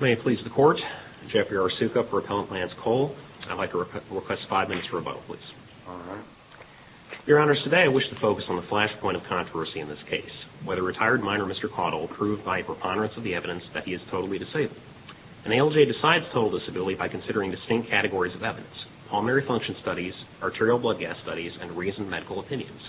May it please the Court, Jeffrey R. Sukup for Appellant Lance Cole. I'd like to request five minutes for a vote, please. Your Honors, today I wish to focus on the flashpoint of controversy in this case, whether retired minor Mr. Caudill proved by preponderance of the evidence that he is totally disabled. An ALJ decides total disability by considering distinct categories of evidence, pulmonary function studies, arterial blood gas studies, and reasoned medical opinions.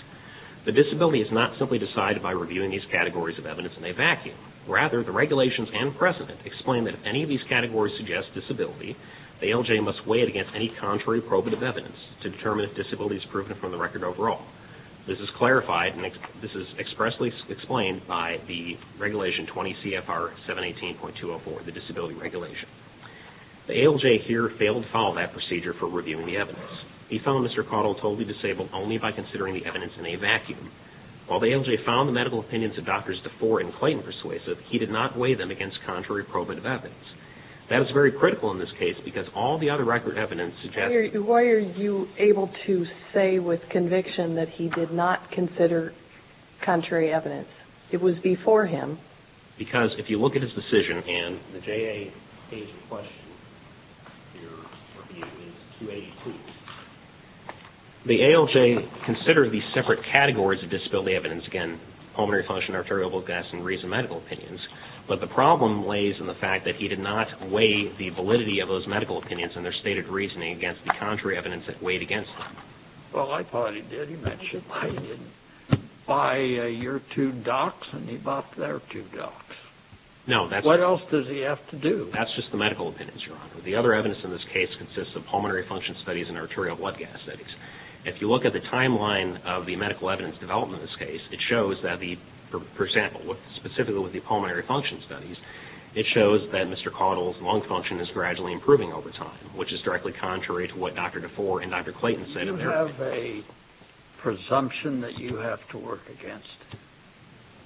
The disability is not simply decided by reviewing these categories of evidence in a vacuum. Rather, the regulations and precedent explain that if any of these categories suggest disability, the ALJ must weigh it against any contrary probative evidence to determine if disability is proven from the record overall. This is clarified and this is expressly explained by the Regulation 20 CFR 718.204, the disability regulation. The ALJ here failed to follow that procedure for reviewing the evidence. He found Mr. Caudill totally disabled only by considering the evidence in a vacuum. While the ALJ found the medical opinions of Drs. DeFore and Clayton persuasive, he did not weigh them against contrary probative evidence. That is very critical in this case because all the other record evidence suggests... Why are you able to say with conviction that he did not consider contrary evidence? It was before him. Because if you look at his decision and the JA's question, your review is 282. The ALJ considered these separate categories of disability evidence, again, pulmonary function, arterial blood gas, and reasoned medical opinions. But the problem lays in the fact that he did not weigh the validity of those medical opinions and their stated reasoning against the contrary evidence that weighed against them. Well, I thought he did. He mentioned that he didn't buy your two docs and he bought their two docs. No, that's... What else does he have to do? That's just the medical opinions, Your Honor. The other evidence in this case consists of pulmonary function studies and arterial blood gas studies. If you look at the timeline of the medical evidence development in this case, it shows that the, for example, specifically with the pulmonary function studies, it shows that Mr. Caudill's lung function is gradually improving over time, which is directly contrary to what Dr. DeFore and Dr. Clayton said in their opinion. Do you have a presumption that you have to work against?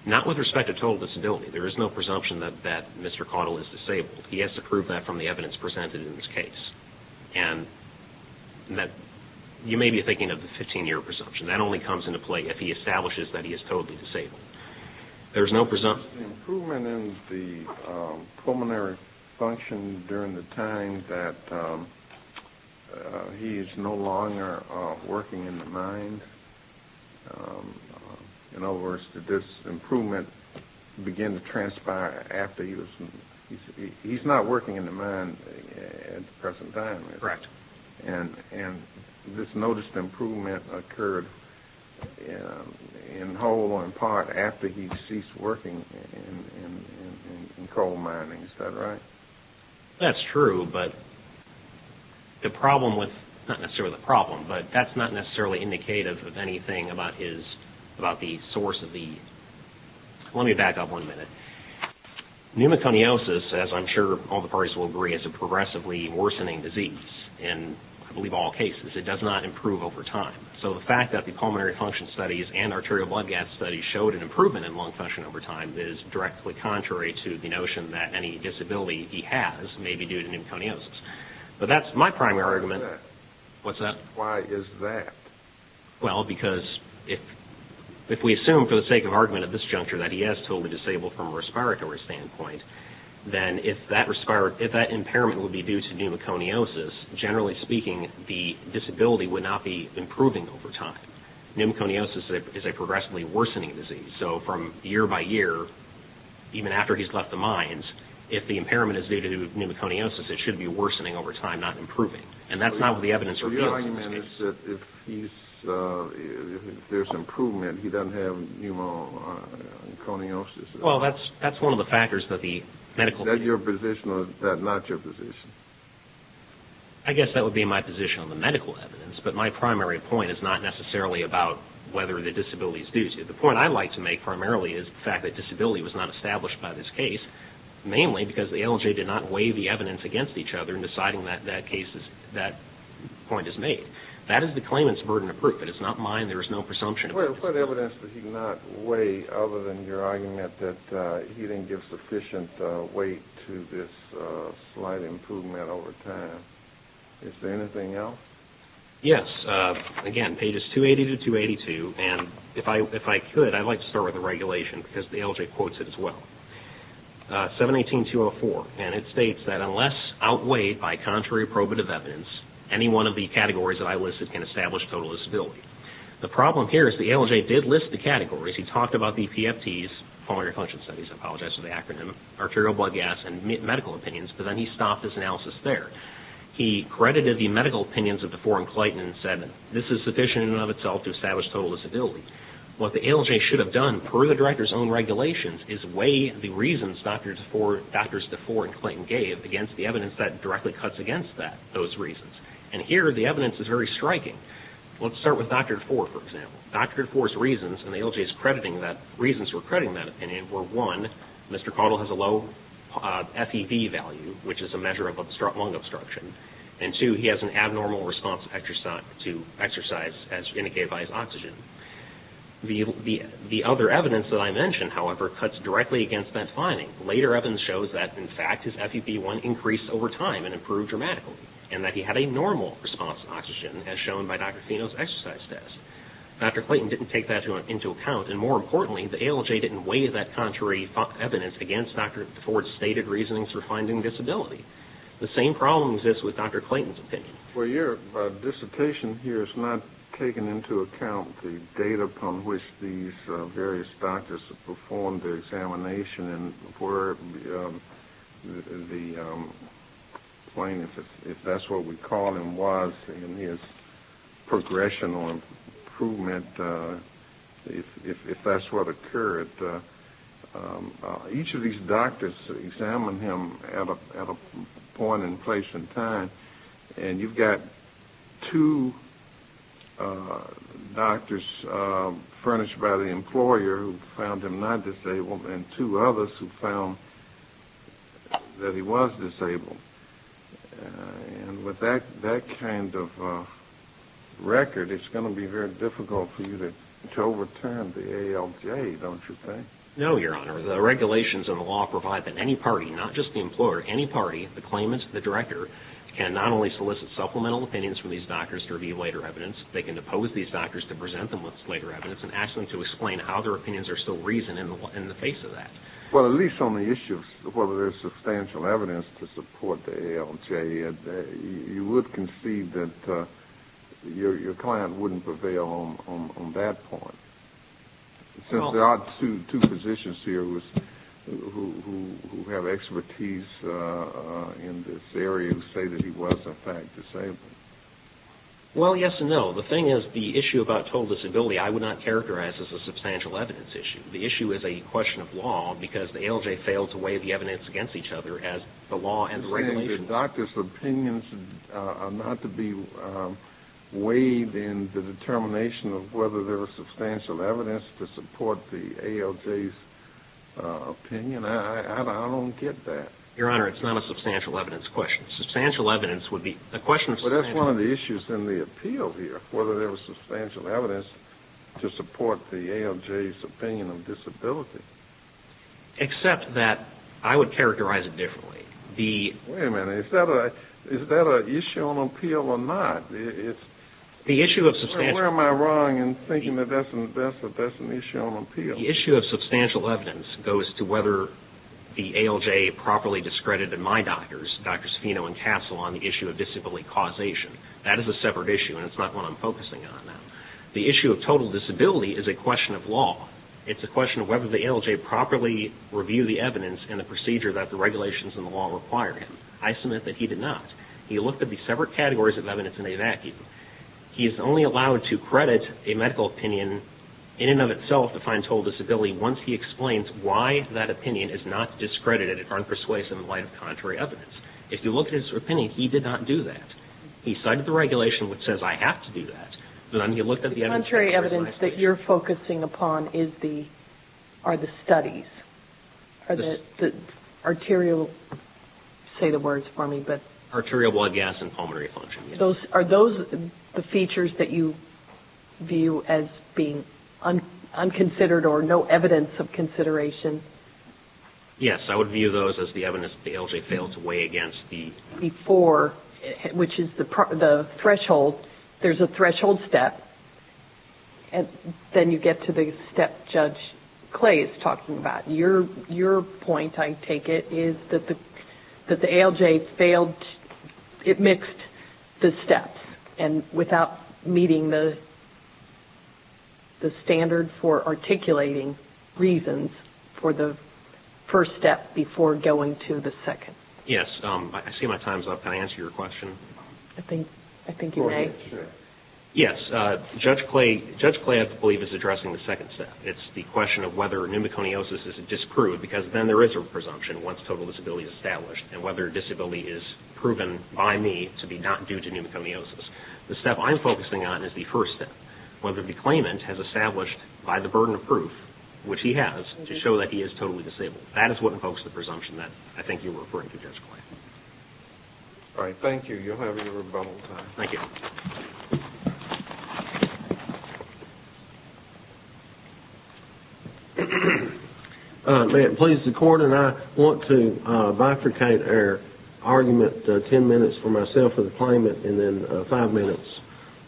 Not with respect to total disability. There is no presumption that Mr. Caudill is disabled. He has to prove that from the evidence presented in this case. And you may be thinking of the 15-year presumption. That only comes into play if he establishes that he is totally disabled. There is no presumption. Improvement in the pulmonary function during the time that he is no longer working in the mind. In other words, did this improvement begin to transpire after he was... He's not working in the mind at the present time. Correct. And this noticed improvement occurred in whole or in part after he ceased working in coal mining. Is that right? That's true, but the problem with... Not necessarily the problem, but that's not necessarily indicative of anything about his... About the source of the... Let me back up one minute. Pneumoconiosis, as I'm sure all the parties will agree, is a disease in, I believe, all cases. It does not improve over time. So the fact that the pulmonary function studies and arterial blood gas studies showed an improvement in lung function over time is directly contrary to the notion that any disability he has may be due to pneumoconiosis. But that's my primary argument. Why is that? Well, because if we assume for the sake of argument at this juncture that he has totally disabled from a respiratory standpoint, then if that impairment would be due to pneumoconiosis, generally speaking, the disability would not be improving over time. Pneumoconiosis is a progressively worsening disease. So from year by year, even after he's left the mines, if the impairment is due to pneumoconiosis, it should be worsening over time, not improving. And that's not what the evidence reveals. So your argument is that if he's... If there's improvement, he doesn't have pneumoconiosis? Well, that's one of the factors that the medical... Is that your position or is that not your position? I guess that would be my position on the medical evidence, but my primary point is not necessarily about whether the disability is due to it. The point I like to make primarily is the fact that disability was not established by this case, mainly because the LJ did not weigh the evidence against each other in deciding that that case is... that point is made. That is the claimant's burden of proof. It is not mine. There is no presumption of proof. What evidence did he not weigh other than your argument that he didn't give sufficient weight to this slight improvement over time? Is there anything else? Yes. Again, pages 280 to 282, and if I could, I'd like to start with the regulation because the LJ quotes it as well. 718.204, and it states that unless outweighed by contrary probative evidence, any one of the categories that I listed can establish total disability. The problem here is the LJ did list the categories. He talked about the PFTs, pulmonary function studies, I apologize for the acronym, arterial blood gas, and medical opinions, but then he stopped his analysis there. He credited the medical opinions of DeFore and Clayton and said, this is sufficient in and of itself to establish total disability. What the LJ should have done, per the director's own regulations, is weigh the reasons Drs. DeFore and Clayton gave against the evidence that directly cuts against those reasons. And here, the evidence is very striking. Let's start with Dr. DeFore, for example. Dr. DeFore's reasons, and the LJ's crediting that, reasons for crediting that opinion were, one, Mr. Caudill has a low FEV value, which is a measure of lung obstruction, and two, he has an abnormal response to exercise as indicated by his oxygen. The other evidence that I mentioned, however, cuts directly against that finding. Later evidence shows that, in fact, his FEV1 increased over time and improved dramatically, and that he had a normal response to oxygen, as shown by Dr. Fino's exercise test. Dr. Clayton didn't take that into account, and more importantly, the LJ didn't weigh that contrary evidence against Dr. DeFore's stated reasonings for finding disability. The same problem exists with Dr. Clayton's opinion. Well, your dissertation here has not taken into account the date upon which these various doctors performed their examination and where the plane, if that's what we call him, was in his progression or improvement, if that's what occurred. Each of these doctors examined him at a point in place and time, and you've got two doctors furnished by the employer who found him not disabled and two others who found that he was disabled. With that kind of record, it's going to be very difficult for you to overturn the ALJ, don't you think? No, Your Honor. The regulations and the law provide that any party, not just the employer, any party, the claimants, the director, can not only solicit supplemental opinions from these doctors to review later evidence, they can oppose these doctors to present them with later evidence and ask them to explain how their opinions are still reasoned in the face of that. Well, at least on the issue of whether there's substantial evidence to support the ALJ, you would concede that your client wouldn't prevail on that point. Since there are two physicians here who have expertise in this area who say that he was, in fact, disabled. Well, yes and no. The thing is, the issue about total disability, I would not characterize as a substantial evidence issue. The issue is a question of law because the ALJ fails to weigh the evidence against each other as the law and the regulations. If the doctor's opinions are not to be weighed in the determination of whether there was substantial evidence to support the ALJ's opinion, I don't get that. Your Honor, it's not a substantial evidence question. Substantial evidence would be a question of substantial evidence. But that's one of the issues in the appeal here, whether there was substantial evidence to support the ALJ's opinion of disability. Except that I would characterize it differently. Wait a minute. Is that an issue on appeal or not? Where am I wrong in thinking that that's an issue on appeal? The issue of substantial evidence goes to whether the ALJ properly discredited my doctors, Drs. Fino and Castle, on the issue of disability causation. That is a separate issue and it's not one I'm focusing on now. The issue of total disability is a question of law. It's a question of whether the ALJ properly reviewed the evidence and the procedure that the regulations and the law required him. I submit that he did not. He looked at the separate categories of evidence in a vacuum. He is only allowed to credit a medical opinion in and of itself to find total disability once he explains why that opinion is not discredited or unpersuasive in light of contrary evidence. If you look at his opinion, he did not do that. He cited the regulation which says I have to do that. The contrary evidence that you're focusing upon are the studies. The arterial, say the words for me. Arterial blood gas and pulmonary function. Are those the features that you view as being unconsidered or no evidence of consideration? Yes, I would view those as the evidence that the ALJ failed to weigh against the... which is the threshold. There's a threshold step. Then you get to the step Judge Clay is talking about. Your point, I take it, is that the ALJ failed. It mixed the steps without meeting the standard for articulating reasons for the first step before going to the second. Yes, I see my time's up. Can I answer your question? I think you may. Yes, Judge Clay, I believe, is addressing the second step. It's the question of whether pneumoconiosis is disproved because then there is a presumption once total disability is established and whether disability is proven by me to be not due to pneumoconiosis. The step I'm focusing on is the first step. Whether the claimant has established by the burden of proof, which he has, to show that he is totally disabled. That is what invokes the presumption that I think you're referring to, Judge Clay. All right, thank you. You'll have your rebuttal time. Thank you. May it please the Court, and I want to bifurcate our argument ten minutes for myself and the claimant and then five minutes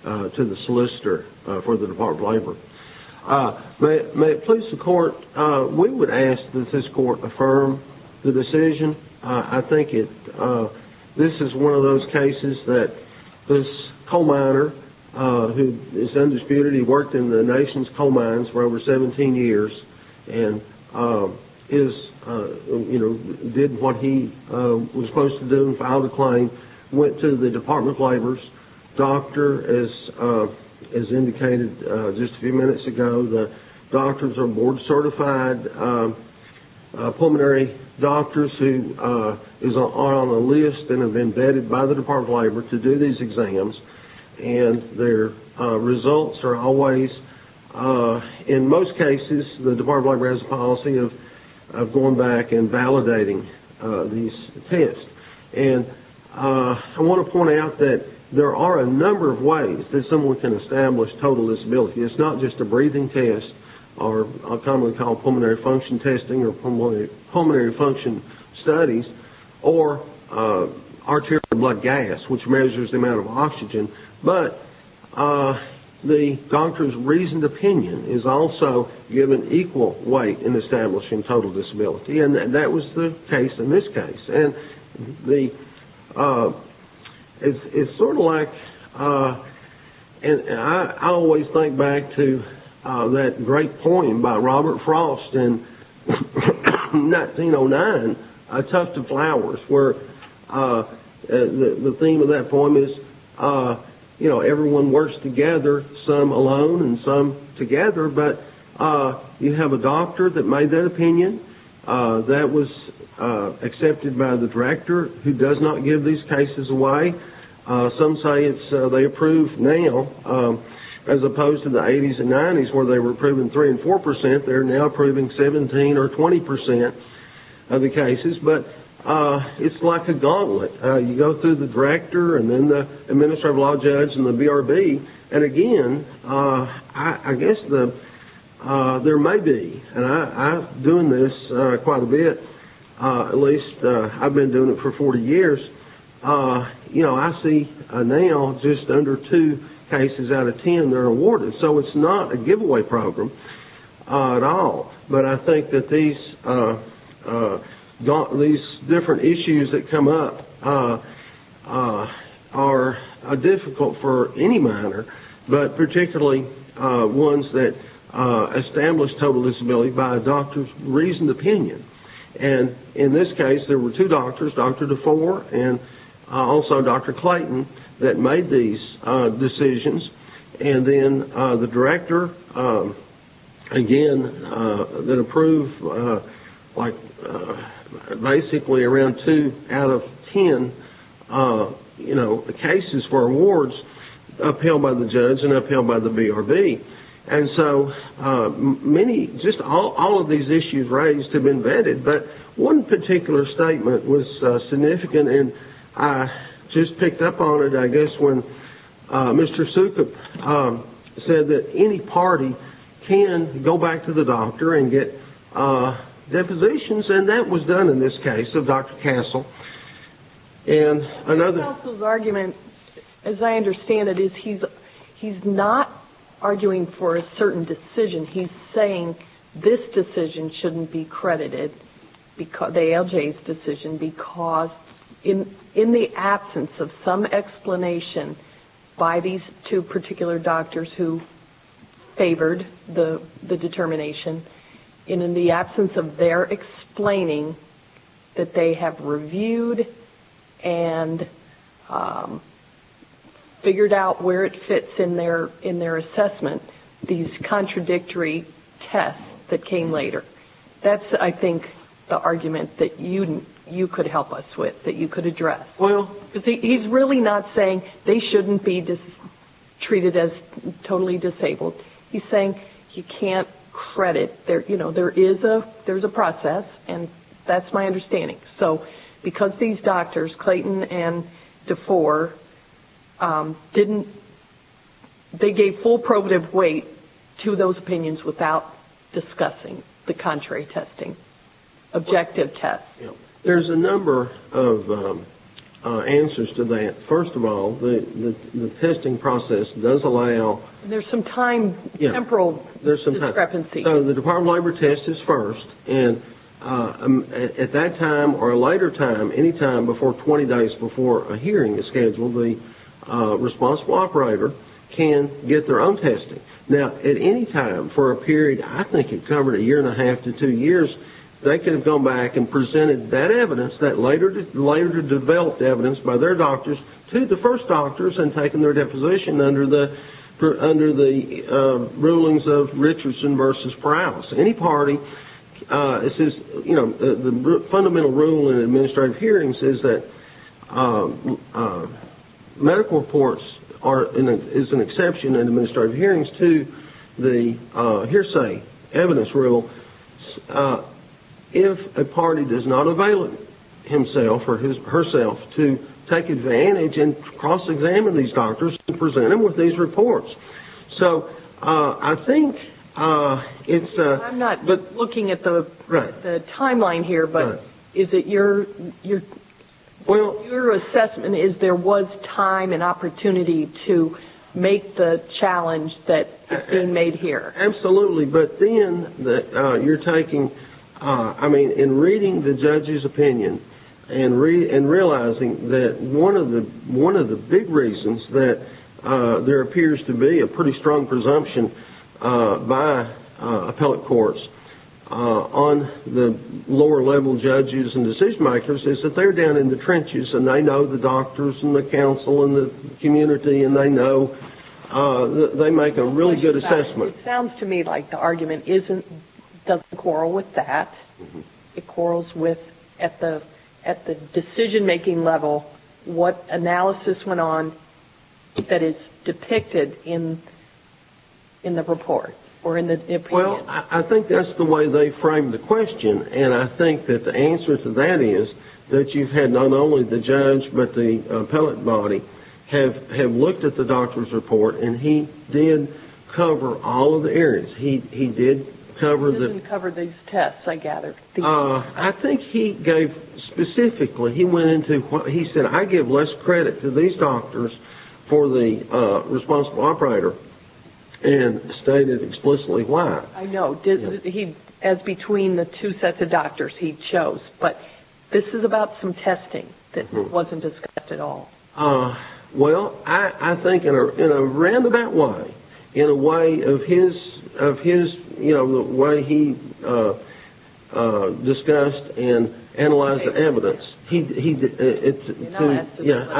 to the solicitor for the Department of Labor. May it please the Court, we would ask that this Court affirm the decision. I think this is one of those cases that this coal miner, who is undisputed, he worked in the nation's coal mines for over 17 years and did what he was supposed to do and filed a claim, went to the Department of Labor's doctor, as indicated just a few minutes ago. The doctors are board-certified pulmonary doctors who are on the list and have been vetted by the Department of Labor to do these exams. Their results are always, in most cases, the Department of Labor has a policy of going back and validating these tests. I want to point out that there are a number of ways that someone can establish total disability. It's not just a breathing test, or commonly called pulmonary function testing or pulmonary function studies, or arterial blood gas, which measures the amount of oxygen, but the doctor's reasoned opinion is also given equal weight in establishing total disability. That was the case in this case. It's sort of like... I always think back to that great poem by Robert Frost in 1909, A Tuft of Flowers, where the theme of that poem is everyone works together, some alone and some together, but you have a doctor that made that opinion. That was accepted by the director, who does not give these cases away. Some say they approve now, as opposed to the 80s and 90s where they were approving 3% and 4%, they're now approving 17% or 20% of the cases, but it's like a gauntlet. You go through the director and then the administrative law judge and the BRB, and again, I guess there may be, and I've been doing this quite a bit, at least I've been doing it for 40 years, I see now just under 2 cases out of 10 that are awarded, so it's not a giveaway program at all. But I think that these different issues that come up are difficult for any minor, but particularly ones that establish total disability by a doctor's reasoned opinion. And in this case, there were two doctors, Dr. DeFore and also Dr. Clayton, that made these decisions. And then the director, again, that approved basically around 2 out of 10 cases for awards upheld by the judge and upheld by the BRB. And so just all of these issues raised have been vetted, but one particular statement was significant, and I just picked up on it, I guess, when Mr. Sukup said that any party can go back to the doctor and get depositions, and that was done in this case of Dr. Castle. Dr. Castle's argument, as I understand it, is he's not arguing for a certain decision. He's saying this decision shouldn't be credited, the ALJ's decision, because in the absence of some explanation by these two particular doctors who favored the determination, and in the absence of their explaining that they have reviewed and figured out where it fits in their assessment, these contradictory tests that came later, that's, I think, the argument that you could help us with, that you could address. He's really not saying they shouldn't be treated as totally disabled. He's saying you can't credit. There is a process, and that's my understanding. So because these doctors, Clayton and DeFore, they gave full probative weight to those opinions without discussing the contrary testing, objective tests. There's a number of answers to that. First of all, the testing process does allow... There's some time, temporal discrepancy. So the Department of Labor test is first, and at that time or a later time, any time before 20 days before a hearing is scheduled, the responsible operator can get their own testing. Now, at any time for a period, I think it covered a year and a half to two years, they could have gone back and presented that evidence, that later developed evidence by their doctors to the first doctors and taken their deposition under the rulings of Richardson v. Prowse. Any party... The fundamental rule in administrative hearings is that medical reports is an exception in administrative hearings to the hearsay evidence rule. If a party does not avail himself or herself to take advantage and cross-examine these doctors and present them with these reports. So I think it's... I'm not looking at the timeline here, but is it your assessment is there was time and opportunity to make the challenge that has been made here? Absolutely, but then you're taking... I mean, in reading the judge's opinion and realizing that one of the big reasons that there appears to be a pretty strong presumption by appellate courts on the lower-level judges and decision-makers is that they're down in the trenches and they know the doctors and the counsel and the community and they know... They make a really good assessment. It sounds to me like the argument doesn't quarrel with that. It quarrels with, at the decision-making level, what analysis went on that is depicted in the report or in the opinion. Well, I think that's the way they framed the question and I think that the answer to that is that you've had not only the judge but the appellate body have looked at the doctor's report and he did cover all of the areas. He didn't cover these tests, I gather. I think he gave... Specifically, he said, I give less credit to these doctors for the responsible operator and stated explicitly why. I know. As between the two sets of doctors he chose. But this is about some testing that wasn't discussed at all. Well, I think in a roundabout way, in a way of his, you know, the way he discussed and analyzed the evidence, I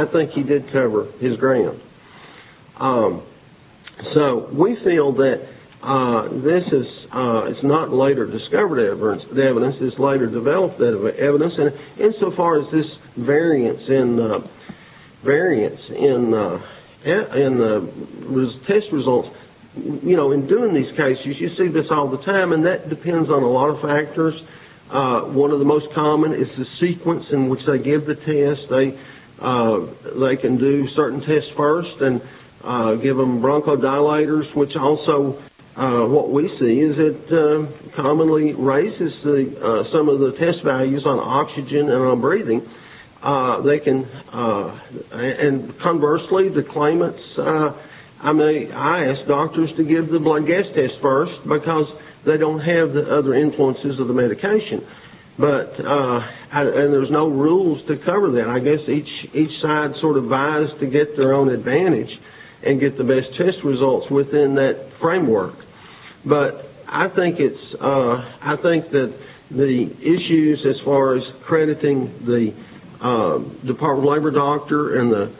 think he did cover his ground. So we feel that this is not later discovered evidence. This is later developed evidence. And so far as this variance in the test results, you know, in doing these cases, you see this all the time and that depends on a lot of factors. One of the most common is the sequence in which they give the test. They can do certain tests first and give them bronchodilators, which also what we see is it commonly raises some of the test values on oxygen and on breathing. They can... And conversely, the claimants... I mean, I ask doctors to give the blood gas test first because they don't have the other influences of the medication. But... And there's no rules to cover that. I guess each side sort of vies to get their own advantage and get the best test results within that framework. But I think it's... I think that the issues as far as crediting the Department of Labor doctor and the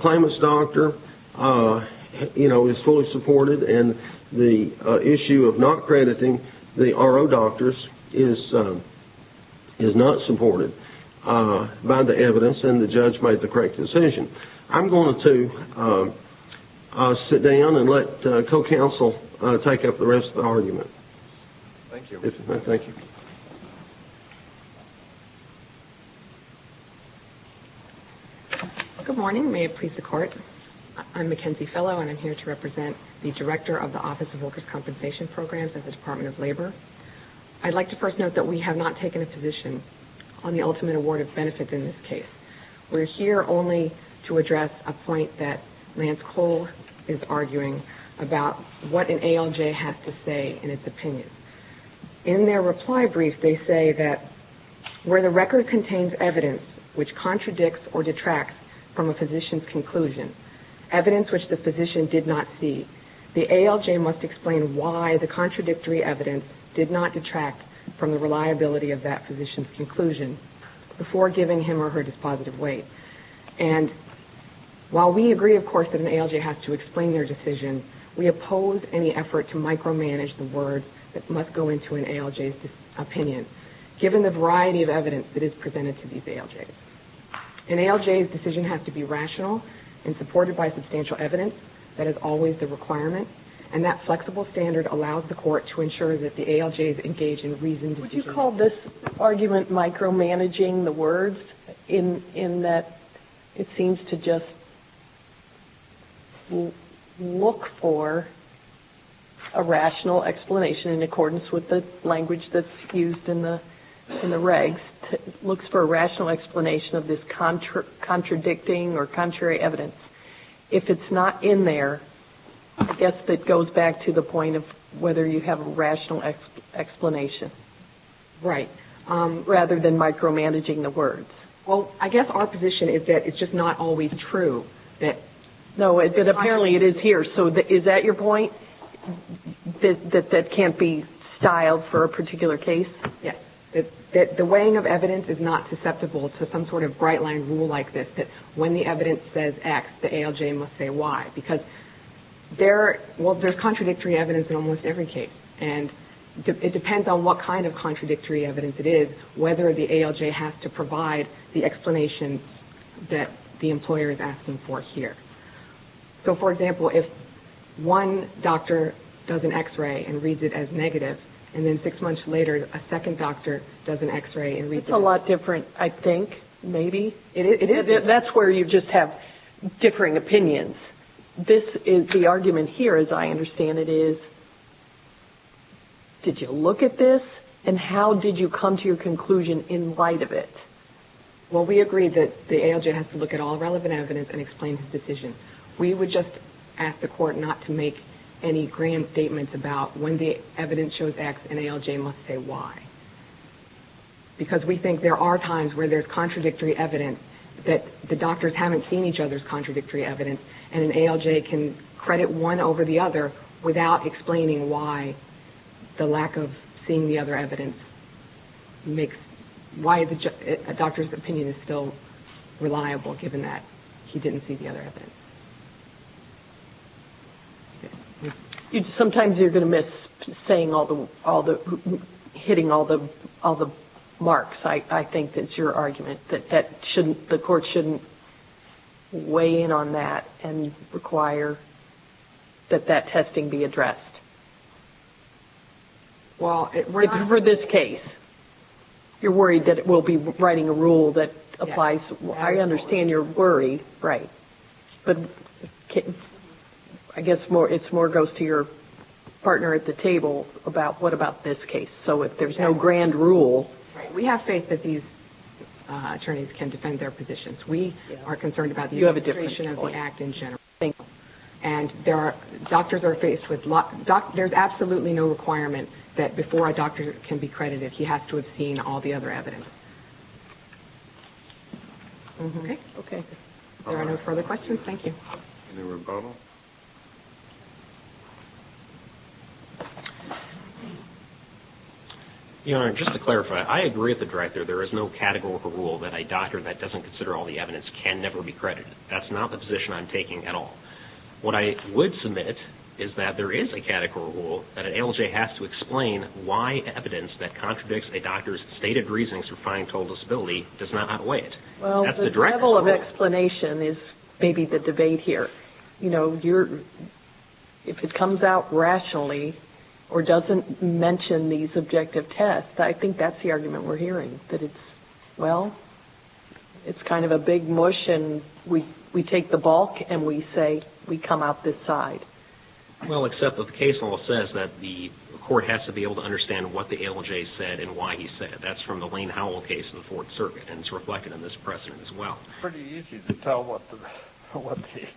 claimant's doctor, you know, is fully supported and the issue of not crediting the RO doctors is not supported by the evidence and the judge made the correct decision. I'm going to sit down and let co-counsel take up the rest of the argument. Thank you. Thank you. Good morning. May it please the Court. I'm Mackenzie Fellow and I'm here to represent the Director of the Office of Workers' Compensation Programs at the Department of Labor. I'd like to first note that we have not taken a position on the ultimate award of benefit in this case. We're here only to address a point that Lance Cole is arguing about what an ALJ has to say in its opinion. In their reply brief, they say that where the record contains evidence which contradicts or detracts from a physician's conclusion, evidence which the physician did not see, the ALJ must explain why the contradictory evidence did not detract from the reliability of that physician's conclusion before giving him or her this positive weight. And while we agree, of course, that an ALJ has to explain their decision, we oppose any effort to micromanage the words that must go into an ALJ's opinion given the variety of evidence that is presented to these ALJs. An ALJ's decision has to be rational and supported by substantial evidence. That is always the requirement, and that flexible standard allows the Court to ensure that the ALJs engage in reasoned discussion. Would you call this argument micromanaging the words in that it seems to just look for a rational explanation in accordance with the language that's used in the regs, looks for a rational explanation of this contradicting or contrary evidence? If it's not in there, I guess that goes back to the point Right, rather than micromanaging the words. Well, I guess our position is that it's just not always true. No, but apparently it is here, so is that your point? That that can't be styled for a particular case? Yes, that the weighing of evidence is not susceptible to some sort of bright-line rule like this, that when the evidence says X, the ALJ must say Y, because there's contradictory evidence in almost every case, and it depends on what kind of contradictory evidence it is, whether the ALJ has to provide the explanation that the employer is asking for here. So, for example, if one doctor does an X-ray and reads it as negative, and then six months later, a second doctor does an X-ray and reads it as negative. That's a lot different, I think, maybe. That's where you just have differing opinions. The argument here, as I understand it, is, did you look at this, and how did you come to your conclusion in light of it? Well, we agree that the ALJ has to look at all relevant evidence and explain his decision. We would just ask the court not to make any grand statements about when the evidence shows X, an ALJ must say Y, because we think there are times where there's contradictory evidence, that the doctors haven't seen each other's contradictory evidence, and an ALJ can credit one over the other without explaining why the lack of seeing the other evidence makes, why a doctor's opinion is still reliable, given that he didn't see the other evidence. Sometimes you're going to miss hitting all the marks. I think that's your argument, that the court shouldn't weigh in on that and require that that testing be addressed. It's for this case. You're worried that we'll be writing a rule that applies. I understand your worry, but I guess it more goes to your partner at the table about, what about this case? So if there's no grand rule... We have faith that these attorneys can defend their positions. We are concerned about the administration of the act in general. And doctors are faced with... There's absolutely no requirement that before a doctor can be credited, he has to have seen all the other evidence. Okay. Are there no further questions? Thank you. Any rebuttal? Just to clarify, I agree with the Director. There is no categorical rule that a doctor that doesn't consider all the evidence can never be credited. That's not the position I'm taking at all. What I would submit is that there is a categorical rule that an ALJ has to explain why evidence that contradicts a doctor's stated reasoning for fine and total disability does not outweigh it. Well, the level of explanation is maybe the debate here. If it comes out rationally or doesn't mention these objective tests, I think that's the argument we're hearing. That it's, well, it's kind of a big mush and we take the bulk and we say we come out this side. Well, except that the case law says that the court has to be able to understand what the ALJ said and why he said it. That's from the Lane Howell case in the Fourth Circuit and it's reflected in this precedent as well. It's pretty easy to tell what the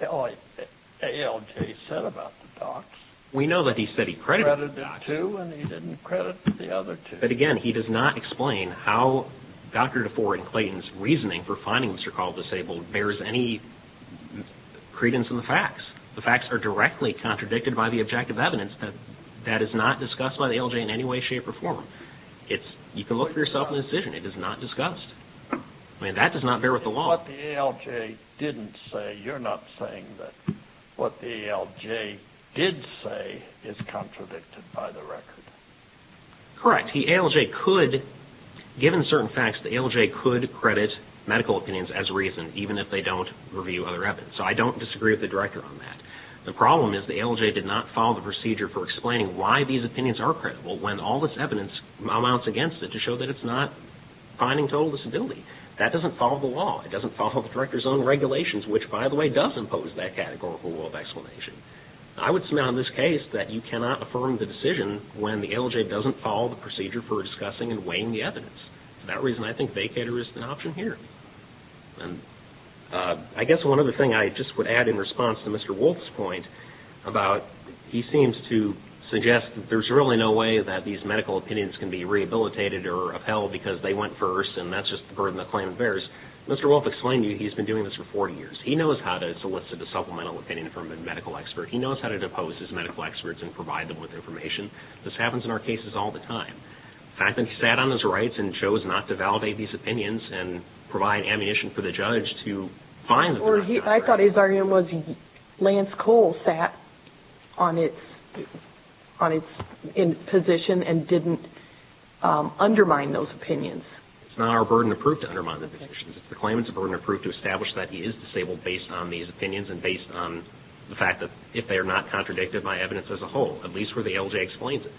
ALJ said about the docs. We know that he said he credited two and he didn't credit the other two. But again, he does not explain how Dr. DeFore and Clayton's reasoning for finding Mr. Call disabled bears any credence in the facts. The facts are directly contradicted by the objective evidence that is not discussed by the ALJ in any way, shape, or form. You can look for yourself in the decision. It is not discussed. I mean, that does not bear with the law. But what the ALJ didn't say, you're not saying that what the ALJ did say is contradicted by the record. Correct. The ALJ could, given certain facts, the ALJ could credit medical opinions as reason even if they don't review other evidence. So I don't disagree with the Director on that. The problem is the ALJ did not follow the procedure for explaining why these opinions are credible when all this evidence amounts against it to show that it's not finding total disability. That doesn't follow the law. It doesn't follow the Director's own regulations, which, by the way, does impose that categorical rule of explanation. I would submit on this case that you cannot affirm the decision when the ALJ doesn't follow the procedure for discussing and weighing the evidence. For that reason, I think vacator is an option here. I guess one other thing I just would add in response to Mr. Wolfe's point about he seems to suggest that there's really no way that these medical opinions can be rehabilitated or upheld because they went first and that's just the burden the claim bears. Mr. Wolfe explained to you he's been doing this for 40 years. He knows how to solicit a supplemental opinion from a medical expert. He knows how to depose his medical experts and provide them with information. This happens in our cases all the time. And I think he sat on his rights and chose not to validate these opinions and provide ammunition for the judge to find them. I thought his argument was Lance Cole sat on his position and didn't undermine those opinions. It's not our burden to prove to undermine the positions. The claimant's burden to prove to establish that he is disabled based on these opinions and based on the fact that if they are not contradicted by evidence as a whole, at least where the ALJ explains it.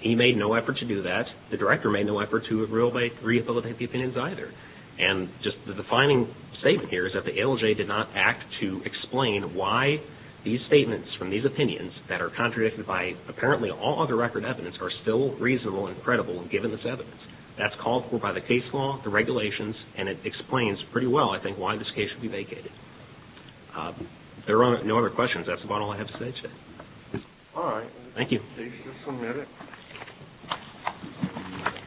He made no effort to do that. The director made no effort to rehabilitate the opinions either. And just the defining statement here is that the ALJ did not act to explain why these statements from these opinions that are contradicted by apparently all other record evidence are still reasonable and credible given this evidence. That's called for by the case law, the regulations, and it explains pretty well, I think, why this case should be vacated. If there are no other questions, that's about all I have to say today. All right. Thank you. Case is submitted.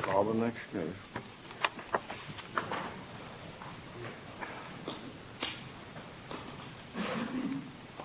Call the next case.